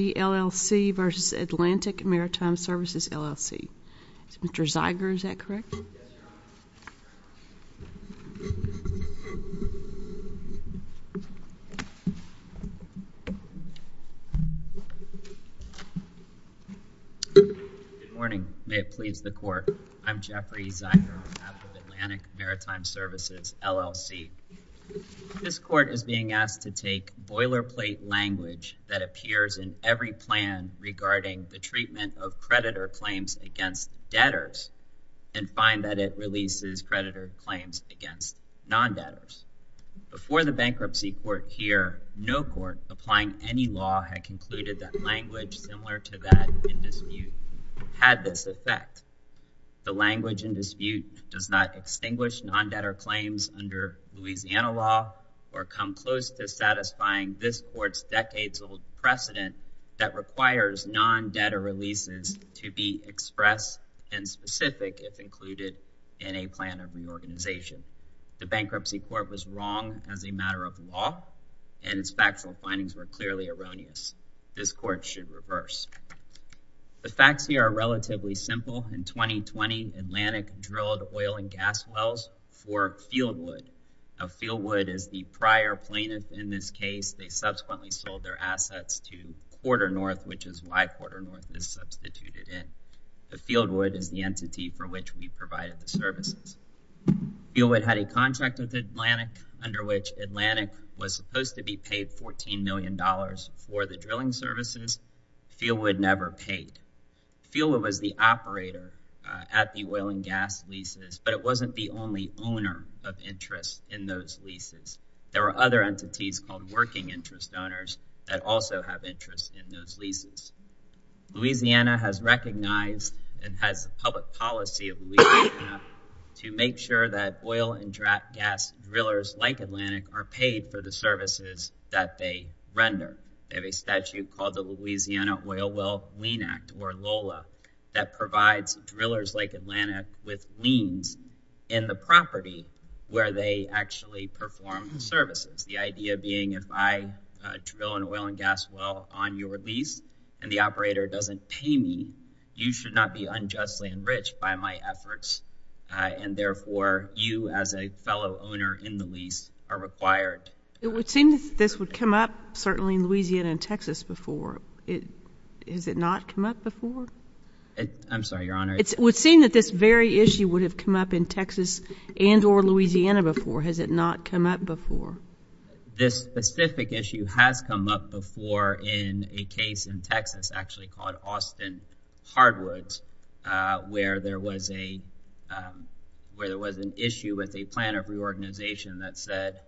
LLC v. Atlantic Maritime Services LLC. Mr. Zeiger, is that correct? Good morning. May it please the Court. I'm Jeffrey Zeiger, on behalf of Atlantic Maritime Services LLC. This Court is being asked to take boilerplate language that appears in every plan regarding the treatment of creditor claims against debtors and find that it releases creditor claims against non-debtors. Before the bankruptcy court here, no court applying any law had concluded that language similar to that in dispute had this effect. The language in dispute does not extinguish non-debtor claims under Louisiana law or come close to requires non-debtor releases to be expressed and specific if included in a plan of reorganization. The bankruptcy court was wrong as a matter of law and its factual findings were clearly erroneous. This Court should reverse. The facts here are relatively simple. In 2020, Atlantic drilled oil and gas wells for Fieldwood. Fieldwood is the prior plaintiff in this case. They subsequently sold their assets to Quarter North, which is why Quarter North is substituted in. Fieldwood is the entity for which we provided the services. Fieldwood had a contract with Atlantic under which Atlantic was supposed to be paid $14 million for the drilling services. Fieldwood never paid. Fieldwood was the operator at the oil and gas leases, but it wasn't the only owner of interest in those leases. There were other entities called working interest owners that also have interest in those leases. Louisiana has recognized and has the public policy of Louisiana to make sure that oil and gas drillers like Atlantic are paid for the services that they render. They have a statute called the Louisiana Oil Well Lien Act or LOLA that provides drillers like Atlantic with liens in the property where they actually perform services. The idea being if I drill an oil and gas well on your lease and the operator doesn't pay me, you should not be unjustly enriched by my efforts and therefore you as a fellow owner in the lease are required. It would seem that this would come up certainly between Louisiana and Texas before. Has it not come up before? I'm sorry, Your Honor. It would seem that this very issue would have come up in Texas and or Louisiana before. Has it not come up before? This specific issue has come up before in a case in Texas actually called Austin Hardwoods where there was an issue with a plan of reorganization that said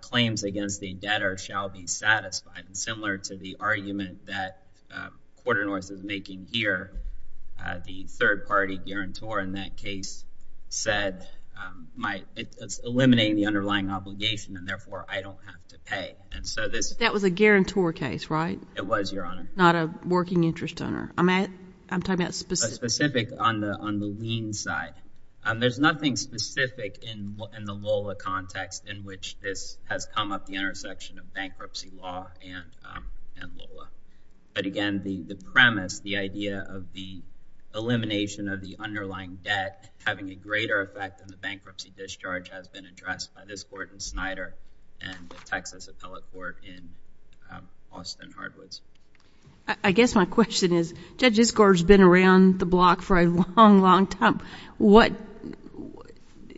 claims against the debtor shall be satisfied. Similar to the argument that quarter north is making here, the third party guarantor in that case said it's eliminating the underlying obligation and therefore I don't have to pay. That was a guarantor case, right? It was, Your Honor. Not a working interest owner. I'm talking about specific. Specific on the has come up the intersection of bankruptcy law and Lola. But again, the premise, the idea of the elimination of the underlying debt having a greater effect than the bankruptcy discharge has been addressed by this court in Snyder and the Texas appellate court in Austin Hardwoods. I guess my question is, Judge Iskor has been around the block for a long, long time. What,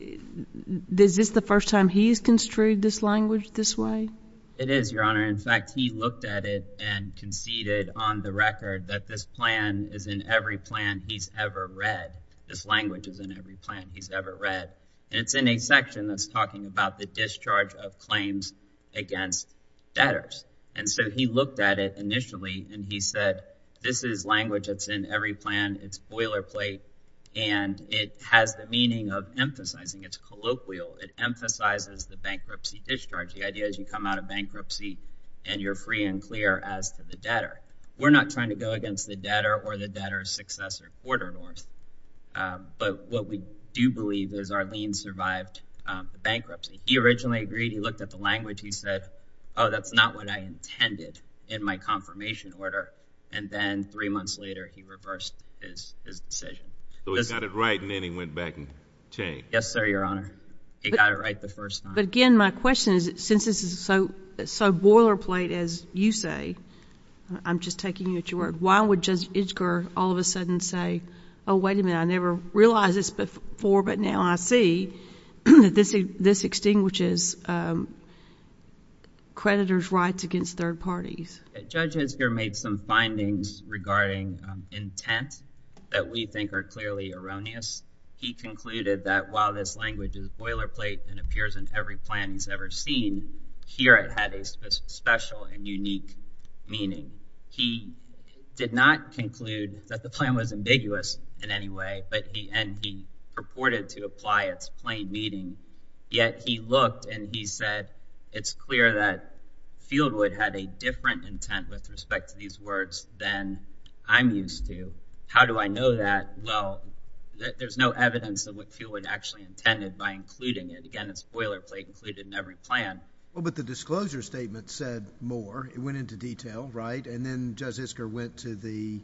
is this the first time he's construed this language this way? It is, Your Honor. In fact, he looked at it and conceded on the record that this plan is in every plan he's ever read. This language is in every plan he's ever read. And it's in a section that's talking about the discharge of claims against debtors. And so he looked at it initially and he said, this is language that's in every plan. It's boilerplate. And it has the meaning of emphasizing. It's colloquial. It emphasizes the bankruptcy discharge. The idea is you come out of bankruptcy and you're free and clear as to the debtor. We're not trying to go against the debtor or the debtor's successor quarter north. But what we do believe is Arlene survived the bankruptcy. He originally agreed. He looked at the language. He said, oh, that's not what I intended in my confirmation order. And then three months later, he reversed his decision. So he got it right and then he went back and changed. Yes, sir, Your Honor. He got it right the first time. But again, my question is, since this is so boilerplate, as you say, I'm just taking you at your word, why would Judge Itzker all of a sudden say, oh, wait a minute, I never realized this before, but now I see that extinguishes creditors' rights against third parties. Judge Itzker made some findings regarding intent that we think are clearly erroneous. He concluded that while this language is boilerplate and appears in every plan he's ever seen, here it had a special and unique meaning. He did not conclude that the plan was ambiguous in any way, and he purported to apply its plain meaning yet he looked and he said, it's clear that Fieldwood had a different intent with respect to these words than I'm used to. How do I know that? Well, there's no evidence of what Fieldwood actually intended by including it. Again, it's boilerplate, included in every plan. Well, but the disclosure statement said more. It went into detail, right? And then Judge Itzker went to the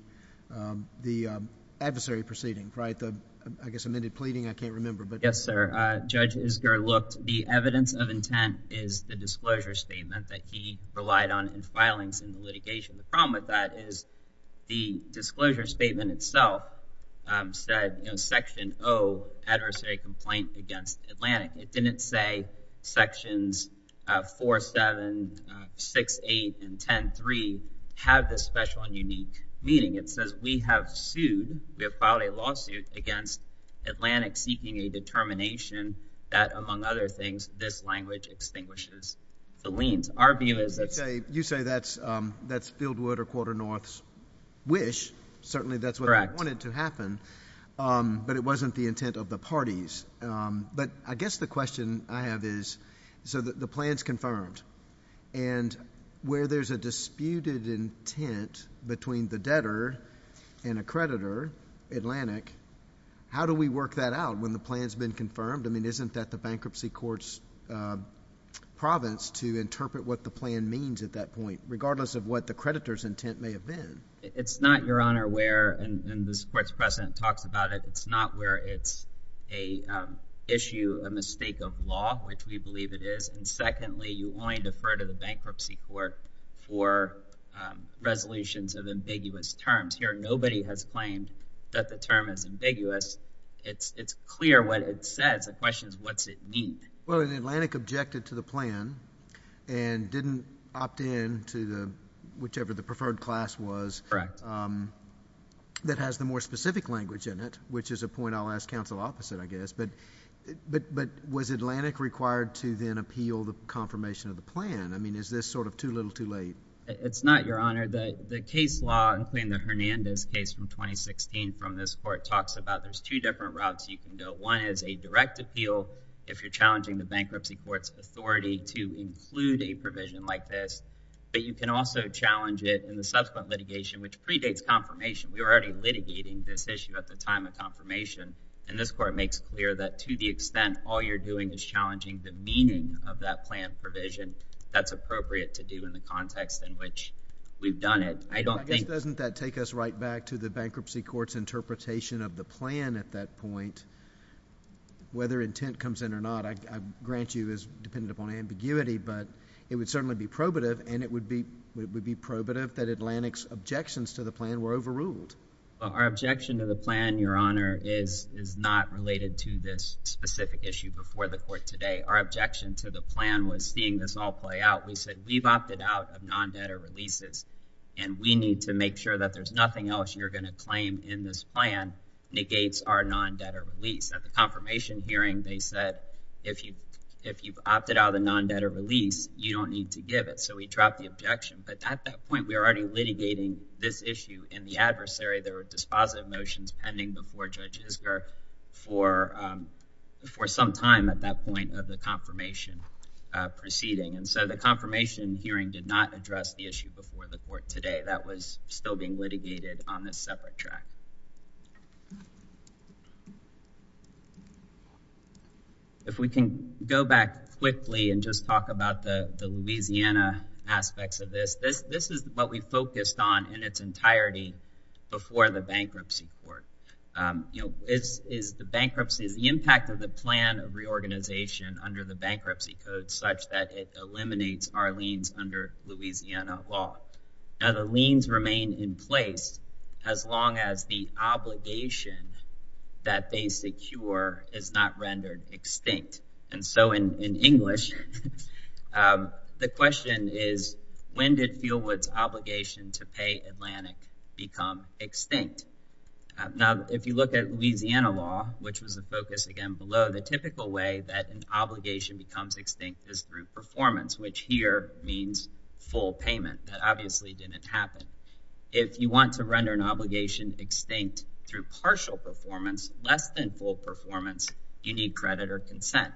adversary proceeding, right? The, I guess, amended pleading, I can't remember. Yes, sir. Judge Itzker looked. The evidence of intent is the disclosure statement that he relied on in filings in the litigation. The problem with that is the disclosure statement itself said, you know, Section O, Adversary Complaint Against Atlantic. It didn't say Sections 4, 7, 6, 8, and 10, 3 have this special and unique meaning. It says we have sued, we have filed a lawsuit against Atlantic seeking a determination that, among other things, this language extinguishes the liens. Our view is that's. You say that's Fieldwood or Quarter North's wish. Certainly, that's what I wanted to happen, but it wasn't the intent of the parties. But I guess the question I have is, so the plan's confirmed, and where there's a disputed intent between the debtor and a creditor, Atlantic, how do we work that out when the plan's been confirmed? I mean, isn't that the bankruptcy court's province to interpret what the plan means at that point, regardless of what the creditor's intent may have been? It's not, Your Honor, where, and this court's president talks about it, it's not where it's an issue, a mistake of law, which we believe it is. And secondly, you only defer to the bankruptcy court for resolutions of ambiguous terms. Here, nobody has claimed that the term is ambiguous. It's clear what it says. The question is, what's it mean? Well, and Atlantic objected to the plan and didn't opt in to the, whichever the preferred class was, that has the more specific language in it, which is a point I'll ask counsel opposite, I guess. But was Atlantic required to then appeal the confirmation of the plan? I mean, is this sort of too little, too late? It's not, Your Honor. The case law, including the Hernandez case from 2016 from this court, talks about there's two different routes you can go. One is a direct appeal, if you're challenging the bankruptcy court's authority to include a provision like this. But you can also challenge it in the subsequent litigation, which predates confirmation. We were already litigating this issue at the time of confirmation. And this court makes clear that to the extent all you're doing is challenging the meaning of that plan provision, that's appropriate to do in the context in which we've done it. I don't think— I guess doesn't that take us right back to the bankruptcy court's interpretation of the plan at that point? Whether intent comes in or not, I grant you is dependent upon ambiguity, but it would certainly be probative, and it would be probative that Atlantic's objections to the plan were overruled. Well, our objection to the plan, Your Honor, is not related to this specific issue before the court today. Our objection to the plan was seeing this all play out. We said, we've opted out of non-debtor releases, and we need to make sure that there's nothing else you're going to claim in this plan negates our non-debtor release. At the confirmation hearing, they said, if you've opted out of the non-debtor release, you don't need to give it. So we dropped the objection. But at that point, we were already litigating this issue. And the for some time at that point of the confirmation proceeding. And so the confirmation hearing did not address the issue before the court today. That was still being litigated on this separate track. If we can go back quickly and just talk about the Louisiana aspects of this, this is what we reorganization under the bankruptcy code such that it eliminates our liens under Louisiana law. Now, the liens remain in place as long as the obligation that they secure is not rendered extinct. And so in English, the question is, when did Fieldwood's obligation to pay Atlantic become extinct? Now, if you look at Louisiana law, which was a focus, again, below the typical way that an obligation becomes extinct is through performance, which here means full payment that obviously didn't happen. If you want to render an obligation extinct through partial performance, less than full performance, you need credit or consent.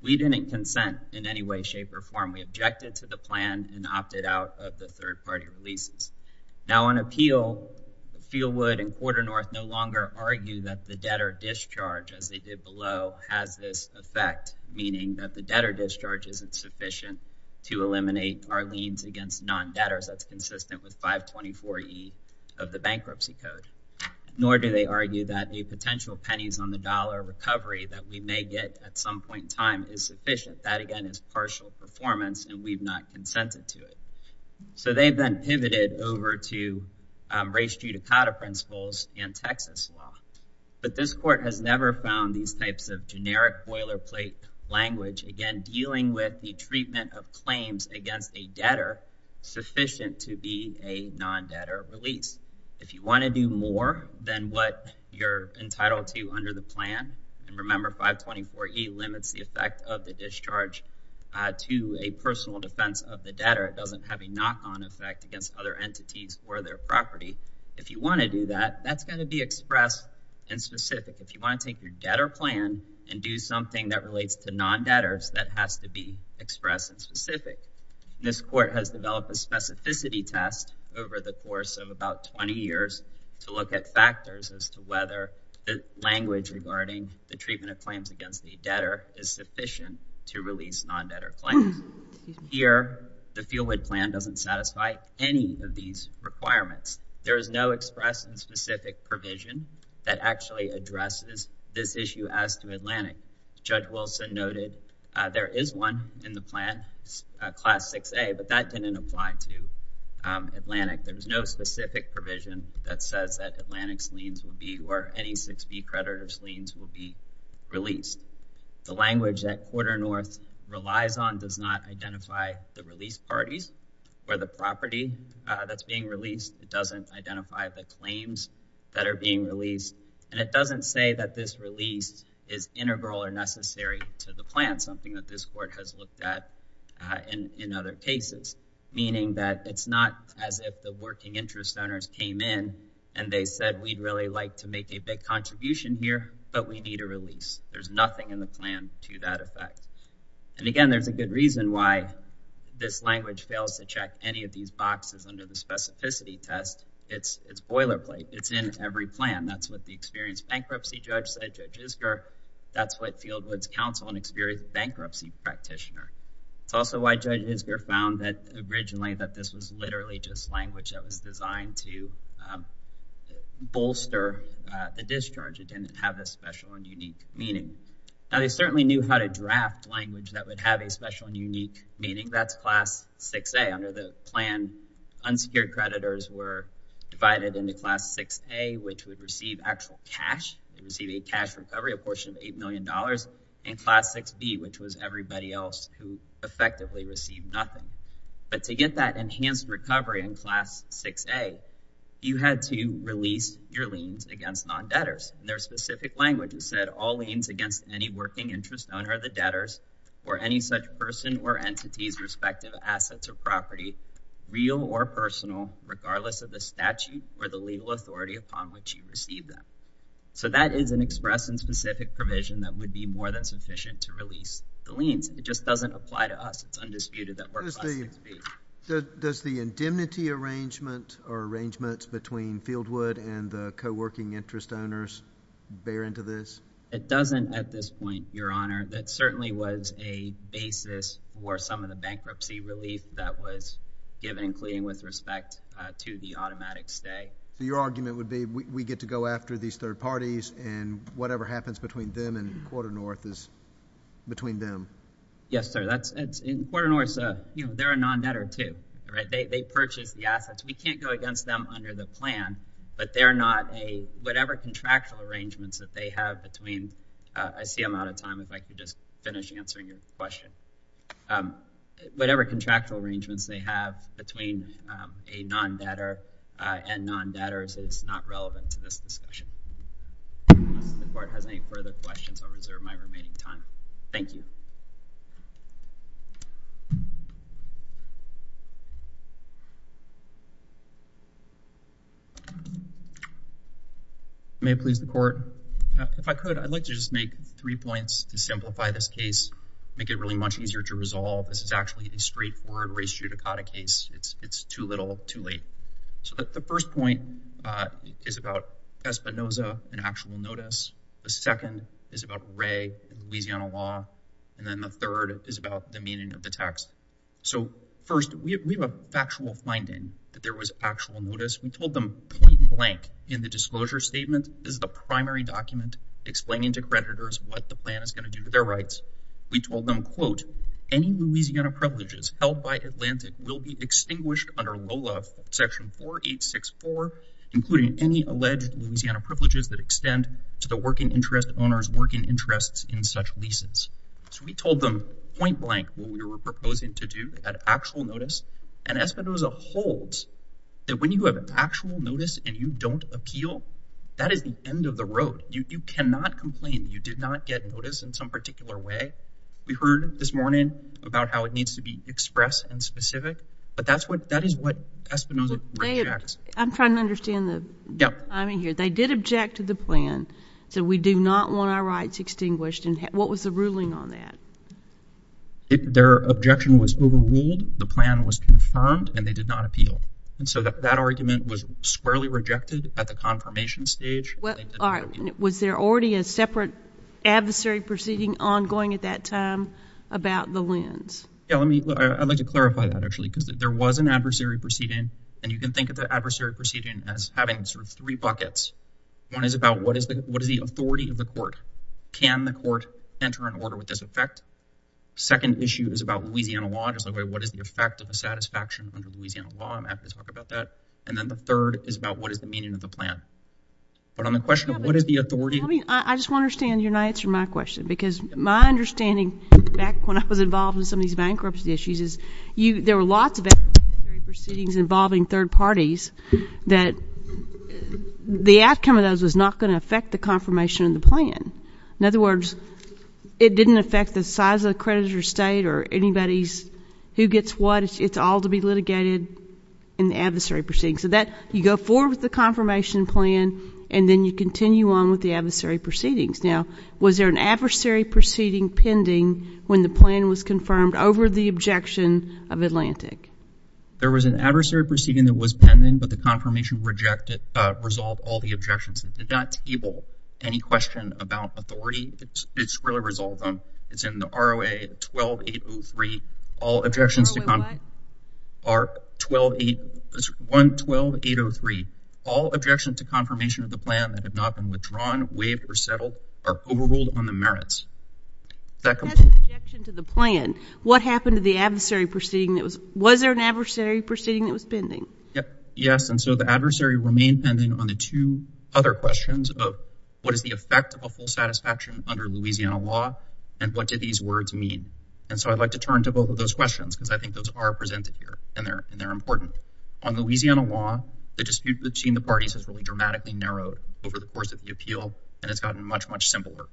We didn't consent in any way, shape, or form. We objected to the plan and opted out of the third party releases. Now, on appeal, Fieldwood and Porter North no longer argue that the debtor discharge, as they did below, has this effect, meaning that the debtor discharge isn't sufficient to eliminate our liens against non-debtors. That's consistent with 524E of the bankruptcy code. Nor do they argue that a potential pennies on the dollar recovery that we may get at some point in time is sufficient. That, again, is partial performance and we've not consented to it. So they've been pivoted over to race judicata principles and Texas law. But this court has never found these types of generic boilerplate language, again, dealing with the treatment of claims against a debtor sufficient to be a non-debtor release. If you want to do more than what you're entitled to under the plan, and remember 524E limits the effect of the discharge to a personal defense of the debtor. It doesn't have a knock-on effect against other entities or their property. If you want to do that, that's going to be expressed and specific. If you want to take your debtor plan and do something that relates to non-debtors, that has to be expressed and specific. This court has developed a specificity test over the course of about 20 years to look at factors as to whether the language regarding the treatment of claims against the debtor is sufficient to release non-debtor claims. Here, the Fieldwood plan doesn't satisfy any of these requirements. There is no express and specific provision that actually addresses this issue as to Atlantic. Judge Wilson noted there is one in the plan, class 6A, but that didn't apply to Atlantic. There was no specific provision that says that Atlantic's liens would be, or any 6B creditor's liens would be released. The language that Quarter North relies on does not identify the release parties or the property that's being released. It doesn't identify the claims that are being released, and it doesn't say that this release is integral or necessary to the plan, something that this court has looked at in other cases, meaning that it's not as if the working interest owners came in and they said we'd really like to make a big contribution here, but we need a release. There's nothing in the plan to that effect. And again, there's a good reason why this language fails to check any of these boxes under the specificity test. It's boilerplate. It's in every plan. That's what the experienced bankruptcy judge said, Judge Isger. That's what Fieldwood's counsel, an experienced bankruptcy practitioner. It's also why Judge Isger found that originally that this was literally just language that was designed to bolster the discharge. It didn't have a special and unique meaning. Now, they certainly knew how to draft language that would have a special and unique meaning. That's class 6A. Under the plan, unsecured creditors were divided into class 6A, which would receive actual cash, receive cash recovery, a portion of $8 million, and class 6B, which was everybody else who effectively received nothing. But to get that enhanced recovery in class 6A, you had to release your liens against non-debtors. Their specific language said, all liens against any working interest owner of the debtors or any such person or entities, respective assets or property, real or personal, regardless of the statute or the legal authority upon which you receive them. So that is an express and specific provision that would be more than sufficient to release the liens. It just doesn't apply to us. It's undisputed that we're class 6B. Does the indemnity arrangement or arrangements between Fieldwood and the co-working interest owners bear into this? It doesn't at this point, Your Honor. That certainly was a basis for some of the bankruptcy relief that was given, including with respect to the automatic stay. Your argument would be, we get to go after these third parties, and whatever happens between them and Quarter North is between them. Yes, sir. In Quarter North, they're a non-debtor, too. They purchase the assets. We can't go against them under the plan, but they're not a—whatever contractual arrangements that they have between—I see I'm out of time. If I could just finish answering your question. Whatever contractual arrangements they have between a non-debtor and non-debtors is not relevant to this discussion. If the Court has any further questions, I'll reserve my remaining time. Thank you. May it please the Court? If I could, I'd like to just make three points to simplify this case, make it really much easier to resolve. This is actually a straightforward race judicata case. It's too little, too late. The first point is about Espinoza and actual notice. The second is about Ray and Louisiana law. And then the third is about the meaning of the text. So first, we have a factual finding that there was actual notice. We told them, point blank, in the disclosure statement, this is the primary document explaining to creditors what the plan is going to do to their rights. We told them, quote, any Louisiana privileges held by Atlantic will be extinguished under LOLA Section 4864, including any alleged Louisiana privileges that extend to the working interest owner's working interests in such leases. So we told them, point blank, what we were proposing to do at actual notice. And Espinoza holds that when you have actual notice and you don't appeal, that is the end of the road. You cannot complain you did not get notice in some particular way. We heard this morning about how it needs to be expressed and specific. But that is what Espinoza rejects. I'm trying to understand the timing here. They did object to the plan. So we do not want our rights extinguished. And what was the ruling on that? Their objection was overruled. The plan was confirmed. And they did not appeal. And so that argument was squarely rejected at the confirmation stage. Was there already a separate adversary proceeding ongoing at that time about the lands? Yeah, let me, I'd like to clarify that actually, because there was an adversary proceeding. And you can think of the adversary proceeding as having sort of three buckets. One is about what is the, what is the authority of the court? Can the court enter an order with this effect? Second issue is about Louisiana law, just like what is the effect of a satisfaction under Louisiana law? I'm happy to talk about that. And then the third is about what is the meaning of the plan? But on the question of what is the authority? I just want to understand, you're not answering my question, because my understanding back when I was involved in some of these bankruptcy issues is you, there were lots of adversary proceedings involving third parties that the outcome of those was not going to affect the confirmation of the plan. In other words, it didn't affect the size of the creditor state or anybody's who gets what, it's all to be litigated in the adversary proceeding. So that you go forward with the Now, was there an adversary proceeding pending when the plan was confirmed over the objection of Atlantic? There was an adversary proceeding that was pending, but the confirmation resolved all the objections. It did not table any question about authority. It's really resolved on, it's in the ROA 12803, all objections to confirmation, ROA what? ARC 12803, all objections to confirmation of the plan that have not been withdrawn, waived, or settled are overruled on the merits. What happened to the adversary proceeding that was, was there an adversary proceeding that was pending? Yes. And so the adversary remained pending on the two other questions of what is the effect of a full satisfaction under Louisiana law and what did these words mean? And so I'd like to turn to both of those questions because I think those are presented here and they're important. On Louisiana law, the dispute between the parties has really dramatically narrowed over the course of the appeal. And it's gotten much, much simpler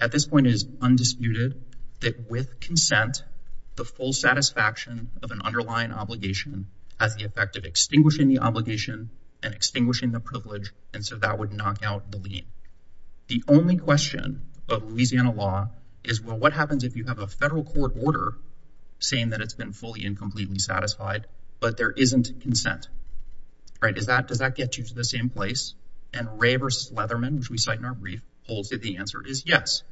at this point is undisputed that with consent, the full satisfaction of an underlying obligation has the effect of extinguishing the obligation and extinguishing the privilege. And so that would knock out the lien. The only question of Louisiana law is, well, what happens if you have a federal court order saying that it's been fully and completely satisfied, but there isn't consent, right? Does that, does that get you to the same place? And Ray versus Leatherman, which we cite in our brief holds that the answer is yes.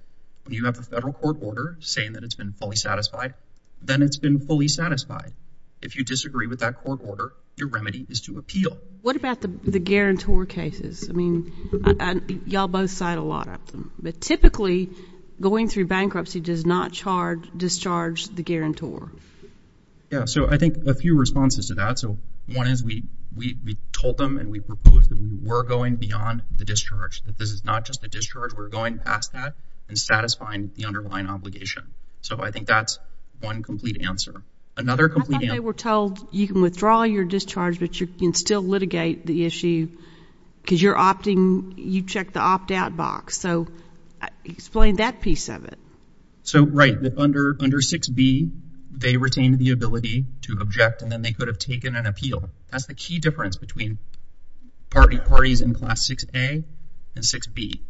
When you have the federal court order saying that it's been fully satisfied, then it's been fully satisfied. If you disagree with that court order, your remedy is to appeal. What about the, the guarantor cases? I mean, y'all both cite a lot but typically going through bankruptcy does not charge discharge the guarantor. Yeah. So I think a few responses to that. So one is we, we, we told them and we proposed that we were going beyond the discharge, that this is not just the discharge. We're going past that and satisfying the underlying obligation. So I think that's one complete answer. Another complete answer. I thought they were told you can withdraw your discharge, but you can still explain that piece of it. So, right. Under, under 6b, they retained the ability to object and then they could have taken an appeal. That's the key difference between parties in class 6a and 6b.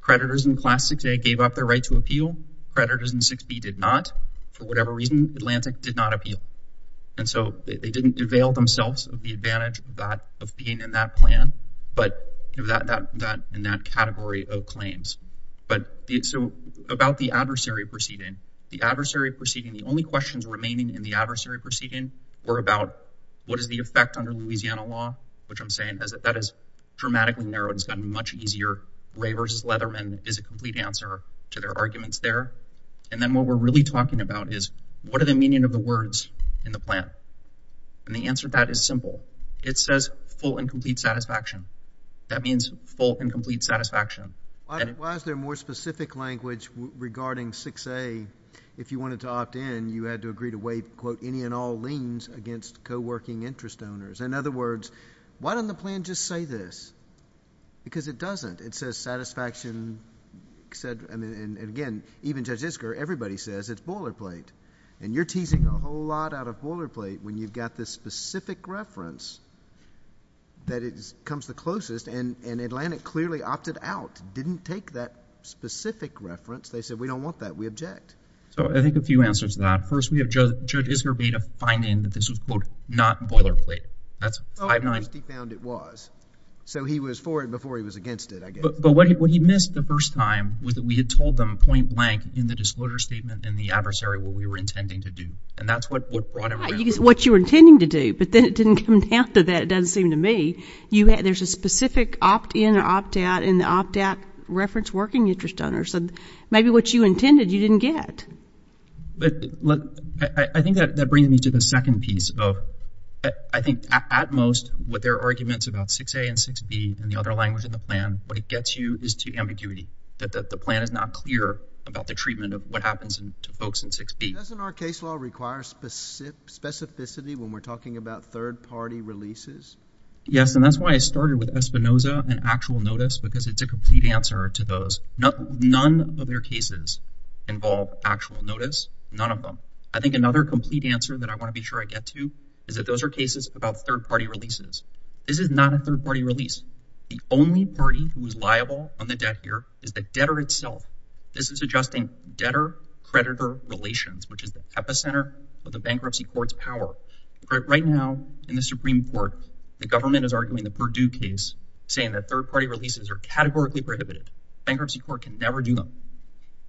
Creditors in class 6a gave up their right to appeal. Creditors in 6b did not. For whatever reason, Atlantic did not appeal. And so they didn't avail themselves of the advantage of that, in that plan. But that, that, that, in that category of claims. But so about the adversary proceeding, the adversary proceeding, the only questions remaining in the adversary proceeding were about what is the effect under Louisiana law, which I'm saying is that that is dramatically narrowed. It's gotten much easier. Ray versus Leatherman is a complete answer to their arguments there. And then what we're really talking about is what are the meaning of the words in the plan? And the answer to that is simple. It says full and complete satisfaction. That means full and complete satisfaction. Why, why is there more specific language regarding 6a? If you wanted to opt in, you had to agree to waive, quote, any and all liens against co-working interest owners. In other words, why doesn't the plan just say this? Because it doesn't. It says satisfaction said, I mean, and again, even Judge Isker, everybody says it's boilerplate. And you're teasing a whole lot out of boilerplate when you've got this specific reference that is, comes the closest. And, and Atlantic clearly opted out, didn't take that specific reference. They said, we don't want that. We object. So I think a few answers to that. First, we have Judge, Judge Isker made a fine name that this was, quote, not boilerplate. That's 5-9. So he was for it before he was against it, I guess. But what he missed the first time was that we had told them point blank in the disclosure statement and the adversary what we were intending to do. And that's what brought him around. What you were intending to do, but then it didn't come down to that, it doesn't seem to me. You had, there's a specific opt in or opt out in the opt out reference working interest owner. So maybe what you intended, you didn't get. But look, I think that brings me to the second piece of, I think at most what their arguments about 6a and 6b and the other language in the plan, what it gets you is to ambiguity, that the plan is not clear about the treatment of what happens to folks in 6b. Doesn't our case law require specificity when we're talking about third party releases? Yes. And that's why I started with Espinoza and actual notice, because it's a complete answer to those. None of their cases involve actual notice. None of them. I think another complete answer that I want to be sure I get to is that those are cases about third party releases. This is not a third party release. The only party who is liable on the debt here is the debtor itself. This is adjusting debtor creditor relations, which is the epicenter of the bankruptcy court's power. Right now in the Supreme Court, the government is arguing the Purdue case saying that third party releases are categorically prohibited. Bankruptcy court can never do them.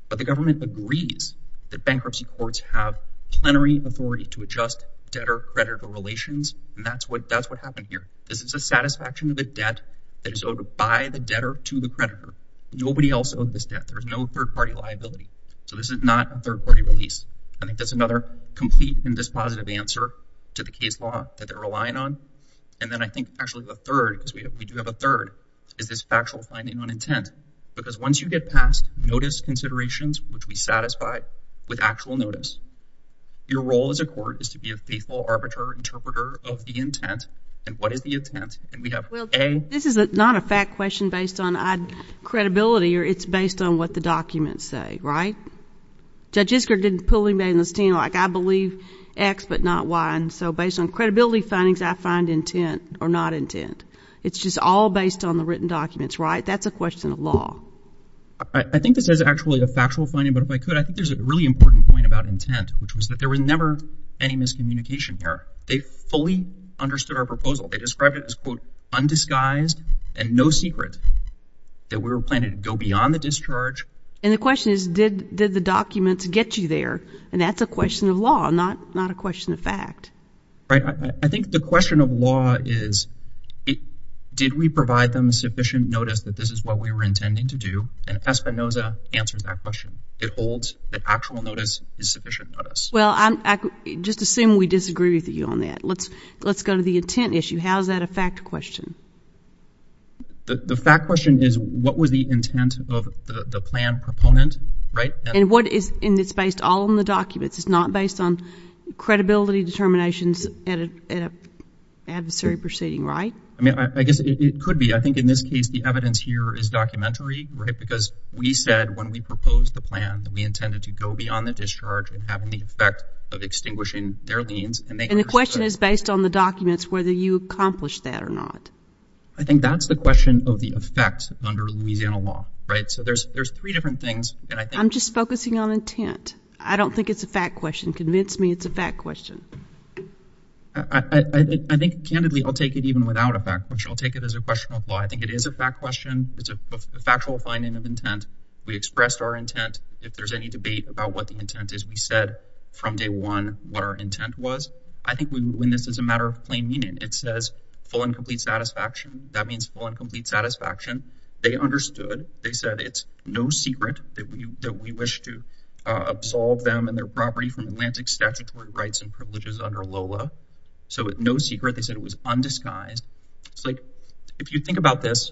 But the government agrees that bankruptcy courts have plenary authority to adjust debtor creditor relations. And that's what happened here. This is a satisfaction of the debt that is owed by the debtor to the creditor. Nobody else owes this debt. There's no third party liability. So this is not a third party release. I think that's another complete and dispositive answer to the case law that they're relying on. And then I think actually the third, because we do have a third, is this factual finding on intent. Because once you get past notice considerations, which we satisfy with actual notice, your role as a court is to be a faithful arbiter, interpreter of the intent. And what is the intent? And we have A. This is not a fact question based on credibility, or it's based on what the documents say, right? Judge Isker didn't pull me in this team like I believe X, but not Y. And so based on credibility findings, I find intent or not intent. It's just all based on the written documents, right? That's a question of law. I think this is actually a factual finding. But if I could, I think there's a really important point about intent, which was that there was never any miscommunication there. They fully understood our proposal. They described it as, quote, undisguised and no secret that we were planning to go beyond the discharge. And the question is, did the documents get you there? And that's a question of law, not a question of fact. Right? I think the question of law is, did we provide them sufficient notice that this is what we were intending to do? And Espinoza answers that question. It holds that actual notice is sufficient notice. Well, just assume we disagree with you on that. Let's go to the intent issue. How is that a fact question? The fact question is, what was the intent of the plan proponent, right? And what is, and it's based all on the documents. It's not based on credibility determinations at an adversary proceeding, right? I mean, I guess it could be. I think in this case the evidence here is documentary, because we said when we proposed the plan that we intended to go beyond the discharge and having the effect of extinguishing their liens. And the question is based on the documents, whether you accomplished that or not. I think that's the question of the effect under Louisiana law, right? So there's three different things. I'm just focusing on intent. I don't think it's a fact question. Convince me it's a fact question. I think candidly, I'll take it even without a fact, which I'll take it as a question of law. I think it is a fact question. It's a factual finding of intent. We expressed our intent. If there's any debate about what the intent is, we said from day one what our intent was. I think we, when this is a matter of plain meaning, it says full and complete satisfaction. That means full and complete satisfaction. They understood. They said it's no secret that we wish to absolve them and their property from Atlantic statutory rights and privileges under so no secret. They said it was undisguised. It's like if you think about this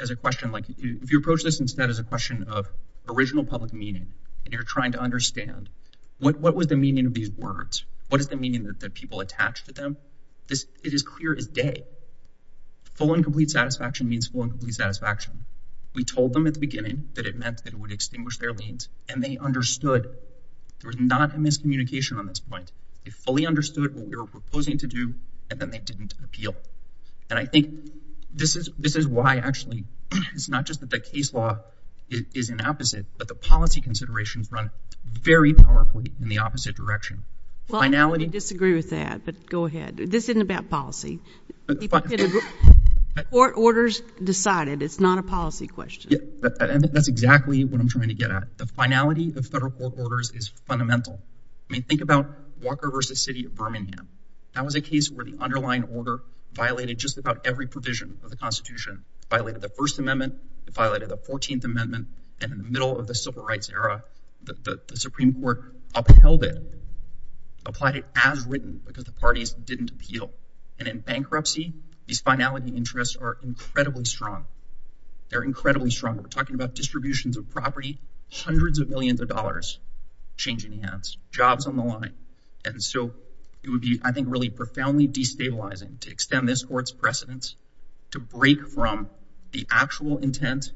as a question, like if you approach this instead as a question of original public meaning and you're trying to understand what was the meaning of these words? What is the meaning that people attach to them? It is clear as day. Full and complete satisfaction means full and complete satisfaction. We told them at the beginning that it meant that it would extinguish their liens, and they understood. There was not a miscommunication on this point. They fully understood what we were proposing to do, and then they didn't appeal. And I think this is why, actually, it's not just that the case law is an opposite, but the policy considerations run very powerfully in the opposite direction. Well, I'm going to disagree with that, but go ahead. This isn't about policy. Court orders decided. It's not a policy question. That's exactly what I'm trying to get at. The finality of federal court orders is fundamental. I mean, think about Walker v. City of Birmingham. That was a case where the underlying order violated just about every provision of the Constitution. It violated the First Amendment. It violated the Fourteenth Amendment. And in the middle of the Civil Rights era, the Supreme Court upheld it, applied it as written because the parties didn't appeal. And in bankruptcy, these finality interests are incredibly strong. They're incredibly strong. We're talking about distributions of property, hundreds of millions of dollars, changing hands, jobs on the line. And so it would be, I think, really profoundly destabilizing to extend this Court's precedence to break from the actual intent,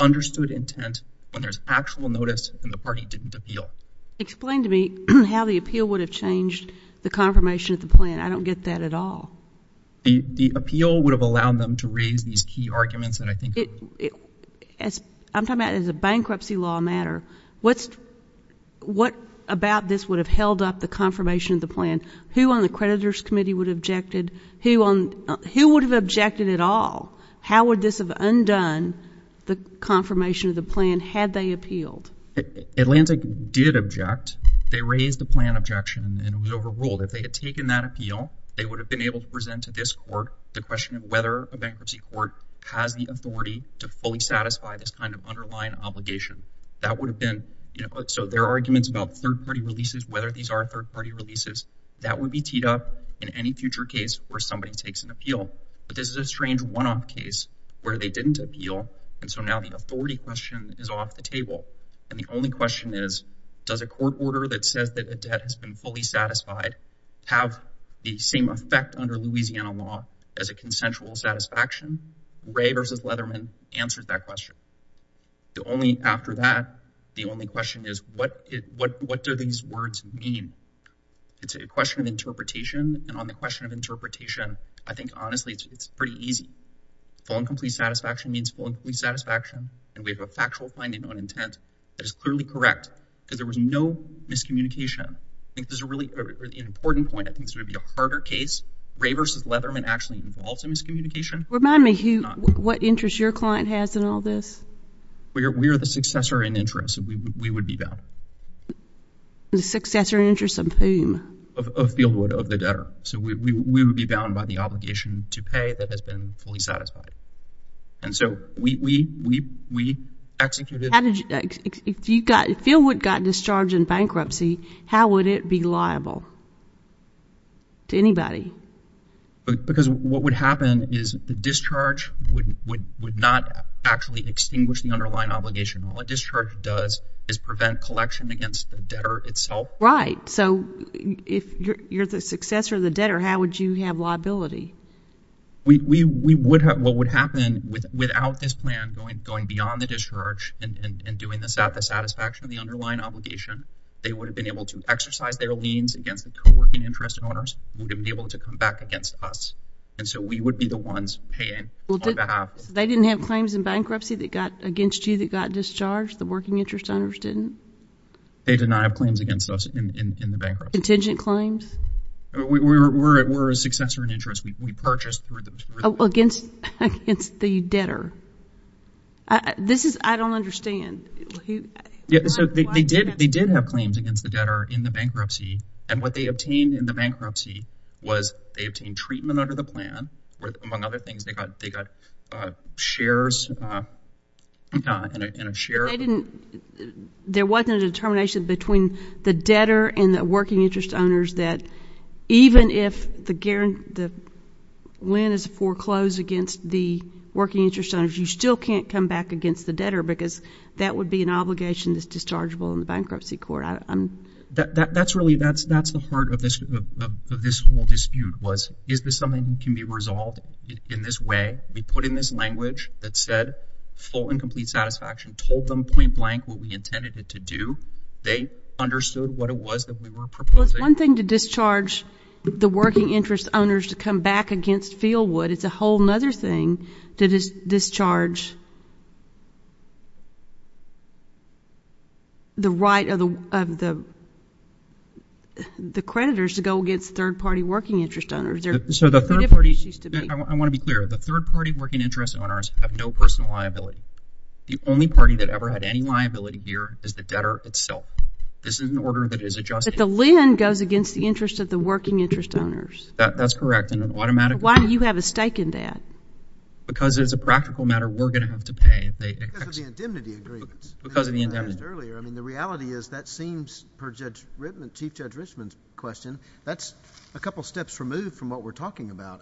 understood intent, when there's actual notice and the party didn't appeal. Explain to me how the appeal would have changed the confirmation of the plan. I don't get that at all. The appeal would have allowed them to raise these key arguments. I'm talking about as a bankruptcy law matter. What about this would have held up the confirmation of the plan? Who on the creditors committee would have objected? Who would have objected at all? How would this have undone the confirmation of the plan had they appealed? Atlantic did object. They raised the plan objection and it was overruled. If they had taken that appeal, they would have been able to present to this Court the question of whether a bankruptcy court has the authority to fully satisfy this kind of underlying obligation. That would have been, you know, so their arguments about third-party releases, whether these are third-party releases, that would be teed up in any future case where somebody takes an appeal. But this is a strange one-off case where they didn't appeal. And so now the authority question is off the table. And the only question is, does a court order that says that a debt has fully satisfied have the same effect under Louisiana law as a consensual satisfaction? Ray versus Leatherman answered that question. The only, after that, the only question is what do these words mean? It's a question of interpretation. And on the question of interpretation, I think honestly, it's pretty easy. Full and complete satisfaction means full and complete satisfaction. And we have a factual finding on intent that is clearly correct because there was no miscommunication. I think there's a really important point, I think it's going to be a harder case. Ray versus Leatherman actually involved in miscommunication. Remind me who, what interest your client has in all this? We are the successor in interest. We would be bound. The successor in interest of whom? Of Fieldwood, of the debtor. So we would be bound by the obligation to pay that has been fully satisfied. And so we executed— if Fieldwood got discharged in bankruptcy, how would it be liable to anybody? Because what would happen is the discharge would not actually extinguish the underlying obligation. All a discharge does is prevent collection against the debtor itself. Right. So if you're the successor of the debtor, how would you have liability? We would have—what would happen without this plan going beyond the discharge and doing the satisfaction of the underlying obligation, they would have been able to exercise their liens against the co-working interest owners, would have been able to come back against us. And so we would be the ones paying on behalf. They didn't have claims in bankruptcy that got against you that got discharged? The working interest owners didn't? They did not have claims against us in the bankruptcy. Contingent claims? We were a successor in interest. We purchased through the— Against the debtor. This is—I don't understand. So they did have claims against the debtor in the bankruptcy. And what they obtained in the bankruptcy was they obtained treatment under the plan, where among other things they got shares in a share— There wasn't a determination between the debtor and the working interest owners that even if the lien is foreclosed against the working interest owners, you still can't come back against the debtor because that would be an obligation that's dischargeable in the bankruptcy court. That's really—that's the heart of this whole dispute was, is this something that can be resolved in this way? We put in this language that said full and complete satisfaction, told them point blank what we intended it to do. They understood what it was that we were proposing. It's one thing to discharge the working interest owners to come back against Feilwood. It's a whole other thing to discharge the right of the creditors to go against third-party working interest owners. So the third party—I want to be clear. The third-party working interest owners have no personal liability. The only party that ever had any liability here is the debtor itself. This is an order that is adjusted— The lien goes against the interest of the working interest owners. That's correct. And an automatic— Why do you have a stake in that? Because it's a practical matter we're going to have to pay. Because of the indemnity agreements. Because of the indemnity— Earlier, I mean, the reality is that seems, per Judge Rittman, Chief Judge Richman's question, that's a couple of steps removed from what we're talking about.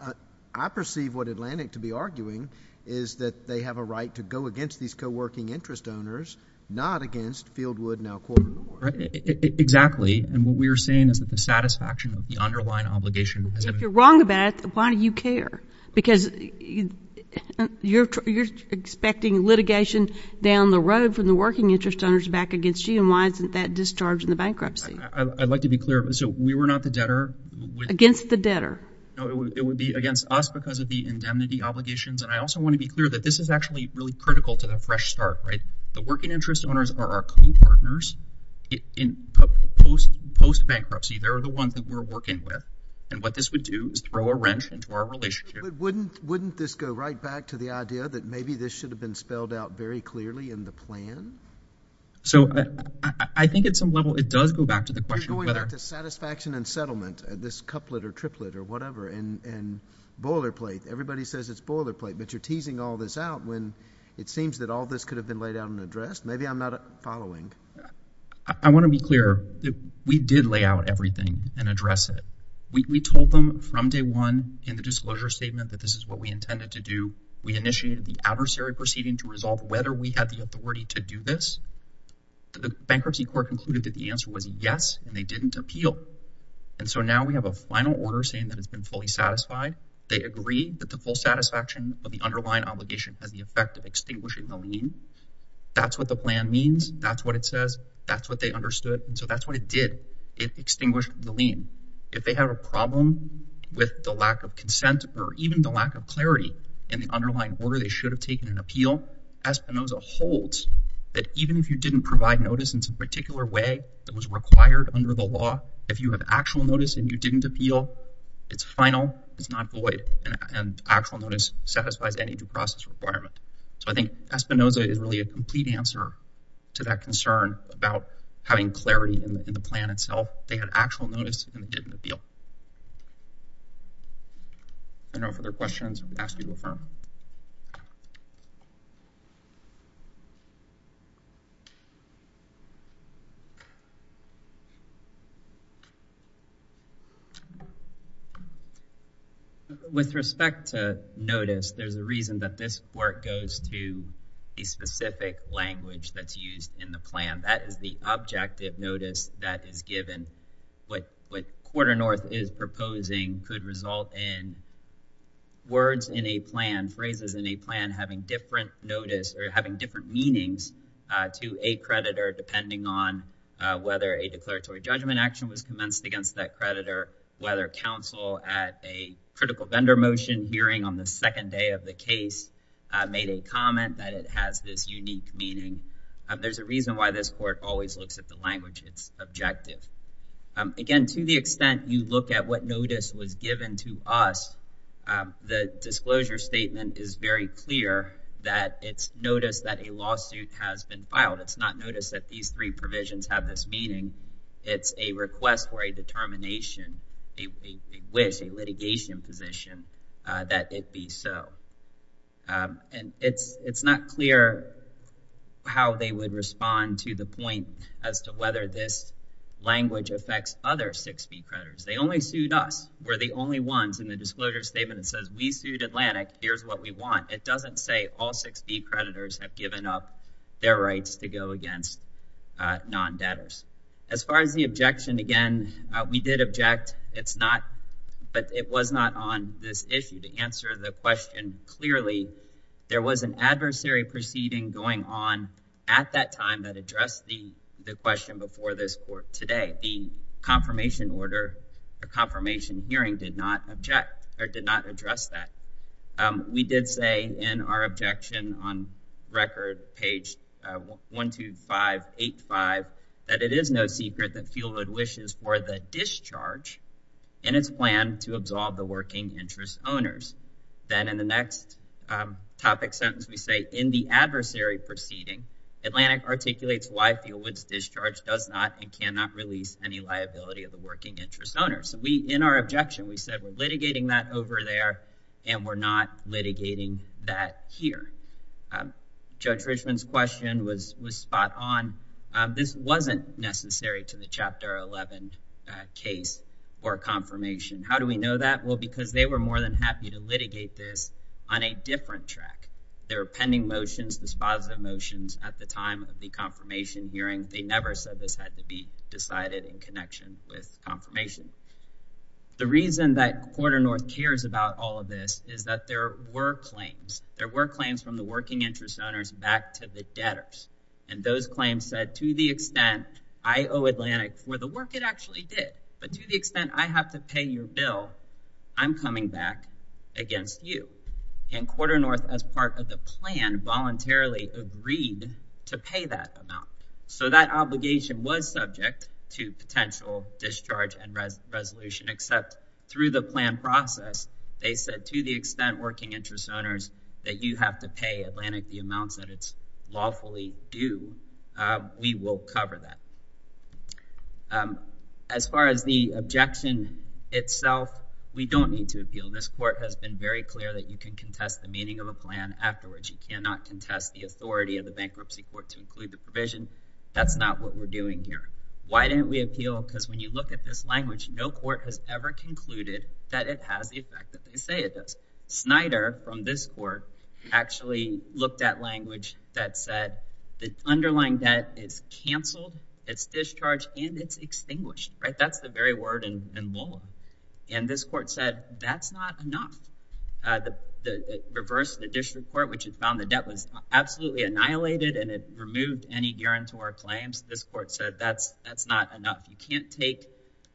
I perceive what Atlantic to be arguing is that they have a right to go against these co-working interest owners, not against Feilwood, now Quartermore. Exactly. And what we're saying is that the satisfaction of the underlying obligation— If you're wrong about it, why do you care? Because you're expecting litigation down the road from the working interest owners back against you, and why isn't that discharging the bankruptcy? I'd like to be clear. So we were not the debtor— Against the debtor. No, it would be against us because of the indemnity obligations. And I also want to be clear that this is actually really critical to the fresh start, right? The working interest owners are our co-partners in post-bankruptcy. They're the ones that we're working with. And what this would do is throw a wrench into our relationship. But wouldn't this go right back to the idea that maybe this should have been spelled out very clearly in the plan? So I think at some level, it does go back to the question of whether— You're going to satisfaction and settlement, this couplet or triplet or whatever, and boilerplate. Everybody says it's boilerplate, but you're teasing all this out when it seems that all this could have been laid out and addressed. Maybe I'm not following. I want to be clear that we did lay out everything and address it. We told them from day one in the disclosure statement that this is what we intended to do. We initiated the adversary proceeding to resolve whether we had the authority to do this. The bankruptcy court concluded that the answer was yes, and they didn't appeal. And so now we have a final order saying that it's been fully satisfied. They agree that the full satisfaction of the extinguishing the lien, that's what the plan means. That's what it says. That's what they understood. And so that's what it did. It extinguished the lien. If they have a problem with the lack of consent or even the lack of clarity in the underlying order, they should have taken an appeal. Espinoza holds that even if you didn't provide notice in some particular way that was required under the law, if you have actual notice and you didn't appeal, it's final. It's not void. And actual notice satisfies any due process requirement. I think Espinoza is really a complete answer to that concern about having clarity in the plan itself. They had actual notice and they didn't appeal. If there are no further questions, I would ask you to affirm. With respect to notice, there's a reason that this work goes to a specific language that's used in the plan. That is the objective notice that is given. What Quarter North is proposing could result in words in a plan that are not intended to be used in the plan, but are intended to be phrases in a plan having different notice or having different meanings to a creditor, depending on whether a declaratory judgment action was commenced against that creditor, whether counsel at a critical vendor motion hearing on the second day of the case made a comment that it has this unique meaning. There's a reason why this court always looks at the language. It's objective. Again, to the extent you look at what notice was given to us, the disclosure statement is very clear that it's notice that a lawsuit has been filed. It's not notice that these three provisions have this meaning. It's a request for a determination, a wish, a litigation position that it be so. It's not clear how they would respond to the point as to whether this language affects other 6B creditors. They only sued us. We're the only ones in the disclosure statement that says we sued Atlantic. Here's what we want. It doesn't say all 6B creditors have given up their rights to go against non-debtors. As far as the objection, again, we did object. It's not, but it was not on this issue. To answer the question clearly, there was an adversary proceeding going on at that time that addressed the question before this today. The confirmation hearing did not address that. We did say in our objection on record, page 12585, that it is no secret that Fieldwood wishes for the discharge in its plan to absolve the working interest owners. Then in the next topic sentence, we say, in the adversary proceeding, Atlantic articulates why Fieldwood's discharge does not and cannot release any liability of the working interest owners. In our objection, we said we're litigating that over there and we're not litigating that here. Judge Richman's question was spot on. This wasn't necessary to the Chapter 11 case or confirmation. How do we know that? Well, because they were more than happy to litigate this on a different track. There were pending motions, dispositive motions, at the time of the confirmation hearing. They never said this had to be decided in connection with confirmation. The reason that Quarter North cares about all of this is that there were claims. There were claims from the working interest owners back to the debtors. Those claims said, to the extent I owe Atlantic for the work it actually did, but to the extent I have to pay your bill, I'm coming back against you. Quarter North, as part of the plan, voluntarily agreed to pay that amount. So that obligation was subject to potential discharge and resolution, except through the plan process, they said, to the extent working interest owners, that you have to pay Atlantic the amounts that it's lawfully due, we will cover that. As far as the objection itself, we don't need to appeal. This Court has been very clear that you can contest the meaning of a plan afterwards. You cannot contest the authority of the bankruptcy court to include the provision. That's not what we're doing here. Why didn't we appeal? Because when you look at this language, no court has ever concluded that it has the effect that they say it does. Snyder, from this Court, actually looked at language that said, the underlying debt is canceled, it's discharged, and it's extinguished. That's the very word in Lola. And this Court said, that's not enough. The reverse, the district court, which had found the debt was absolutely annihilated and it removed any guarantor claims, this Court said, that's not enough. You can't take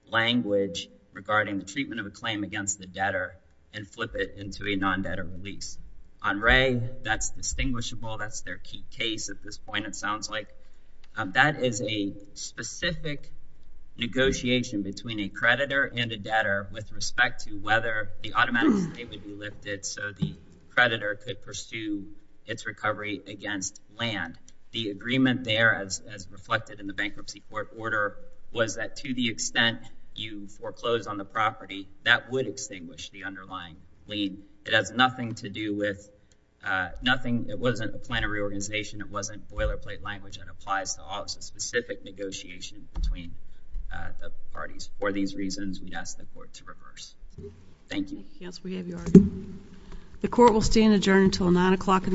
language regarding the treatment of a claim against the debtor and flip it into a non-debtor release. On Wray, that's distinguishable. That's their key case at this point, it sounds like. That is a specific negotiation between a creditor and a debtor with respect to whether the automatic payment would be lifted so the creditor could pursue its recovery against land. The agreement there, as reflected in the bankruptcy court order, was that to the extent you foreclose on the property, that would extinguish the underlying lien. It has nothing to do with, it wasn't a plan of reorganization, it wasn't boilerplate language that applies to all. It's a specific negotiation between the parties. For these reasons, we'd ask the Court to reverse. Thank you. Yes, we have your argument. The Court will stand adjourned until nine o'clock in the morning.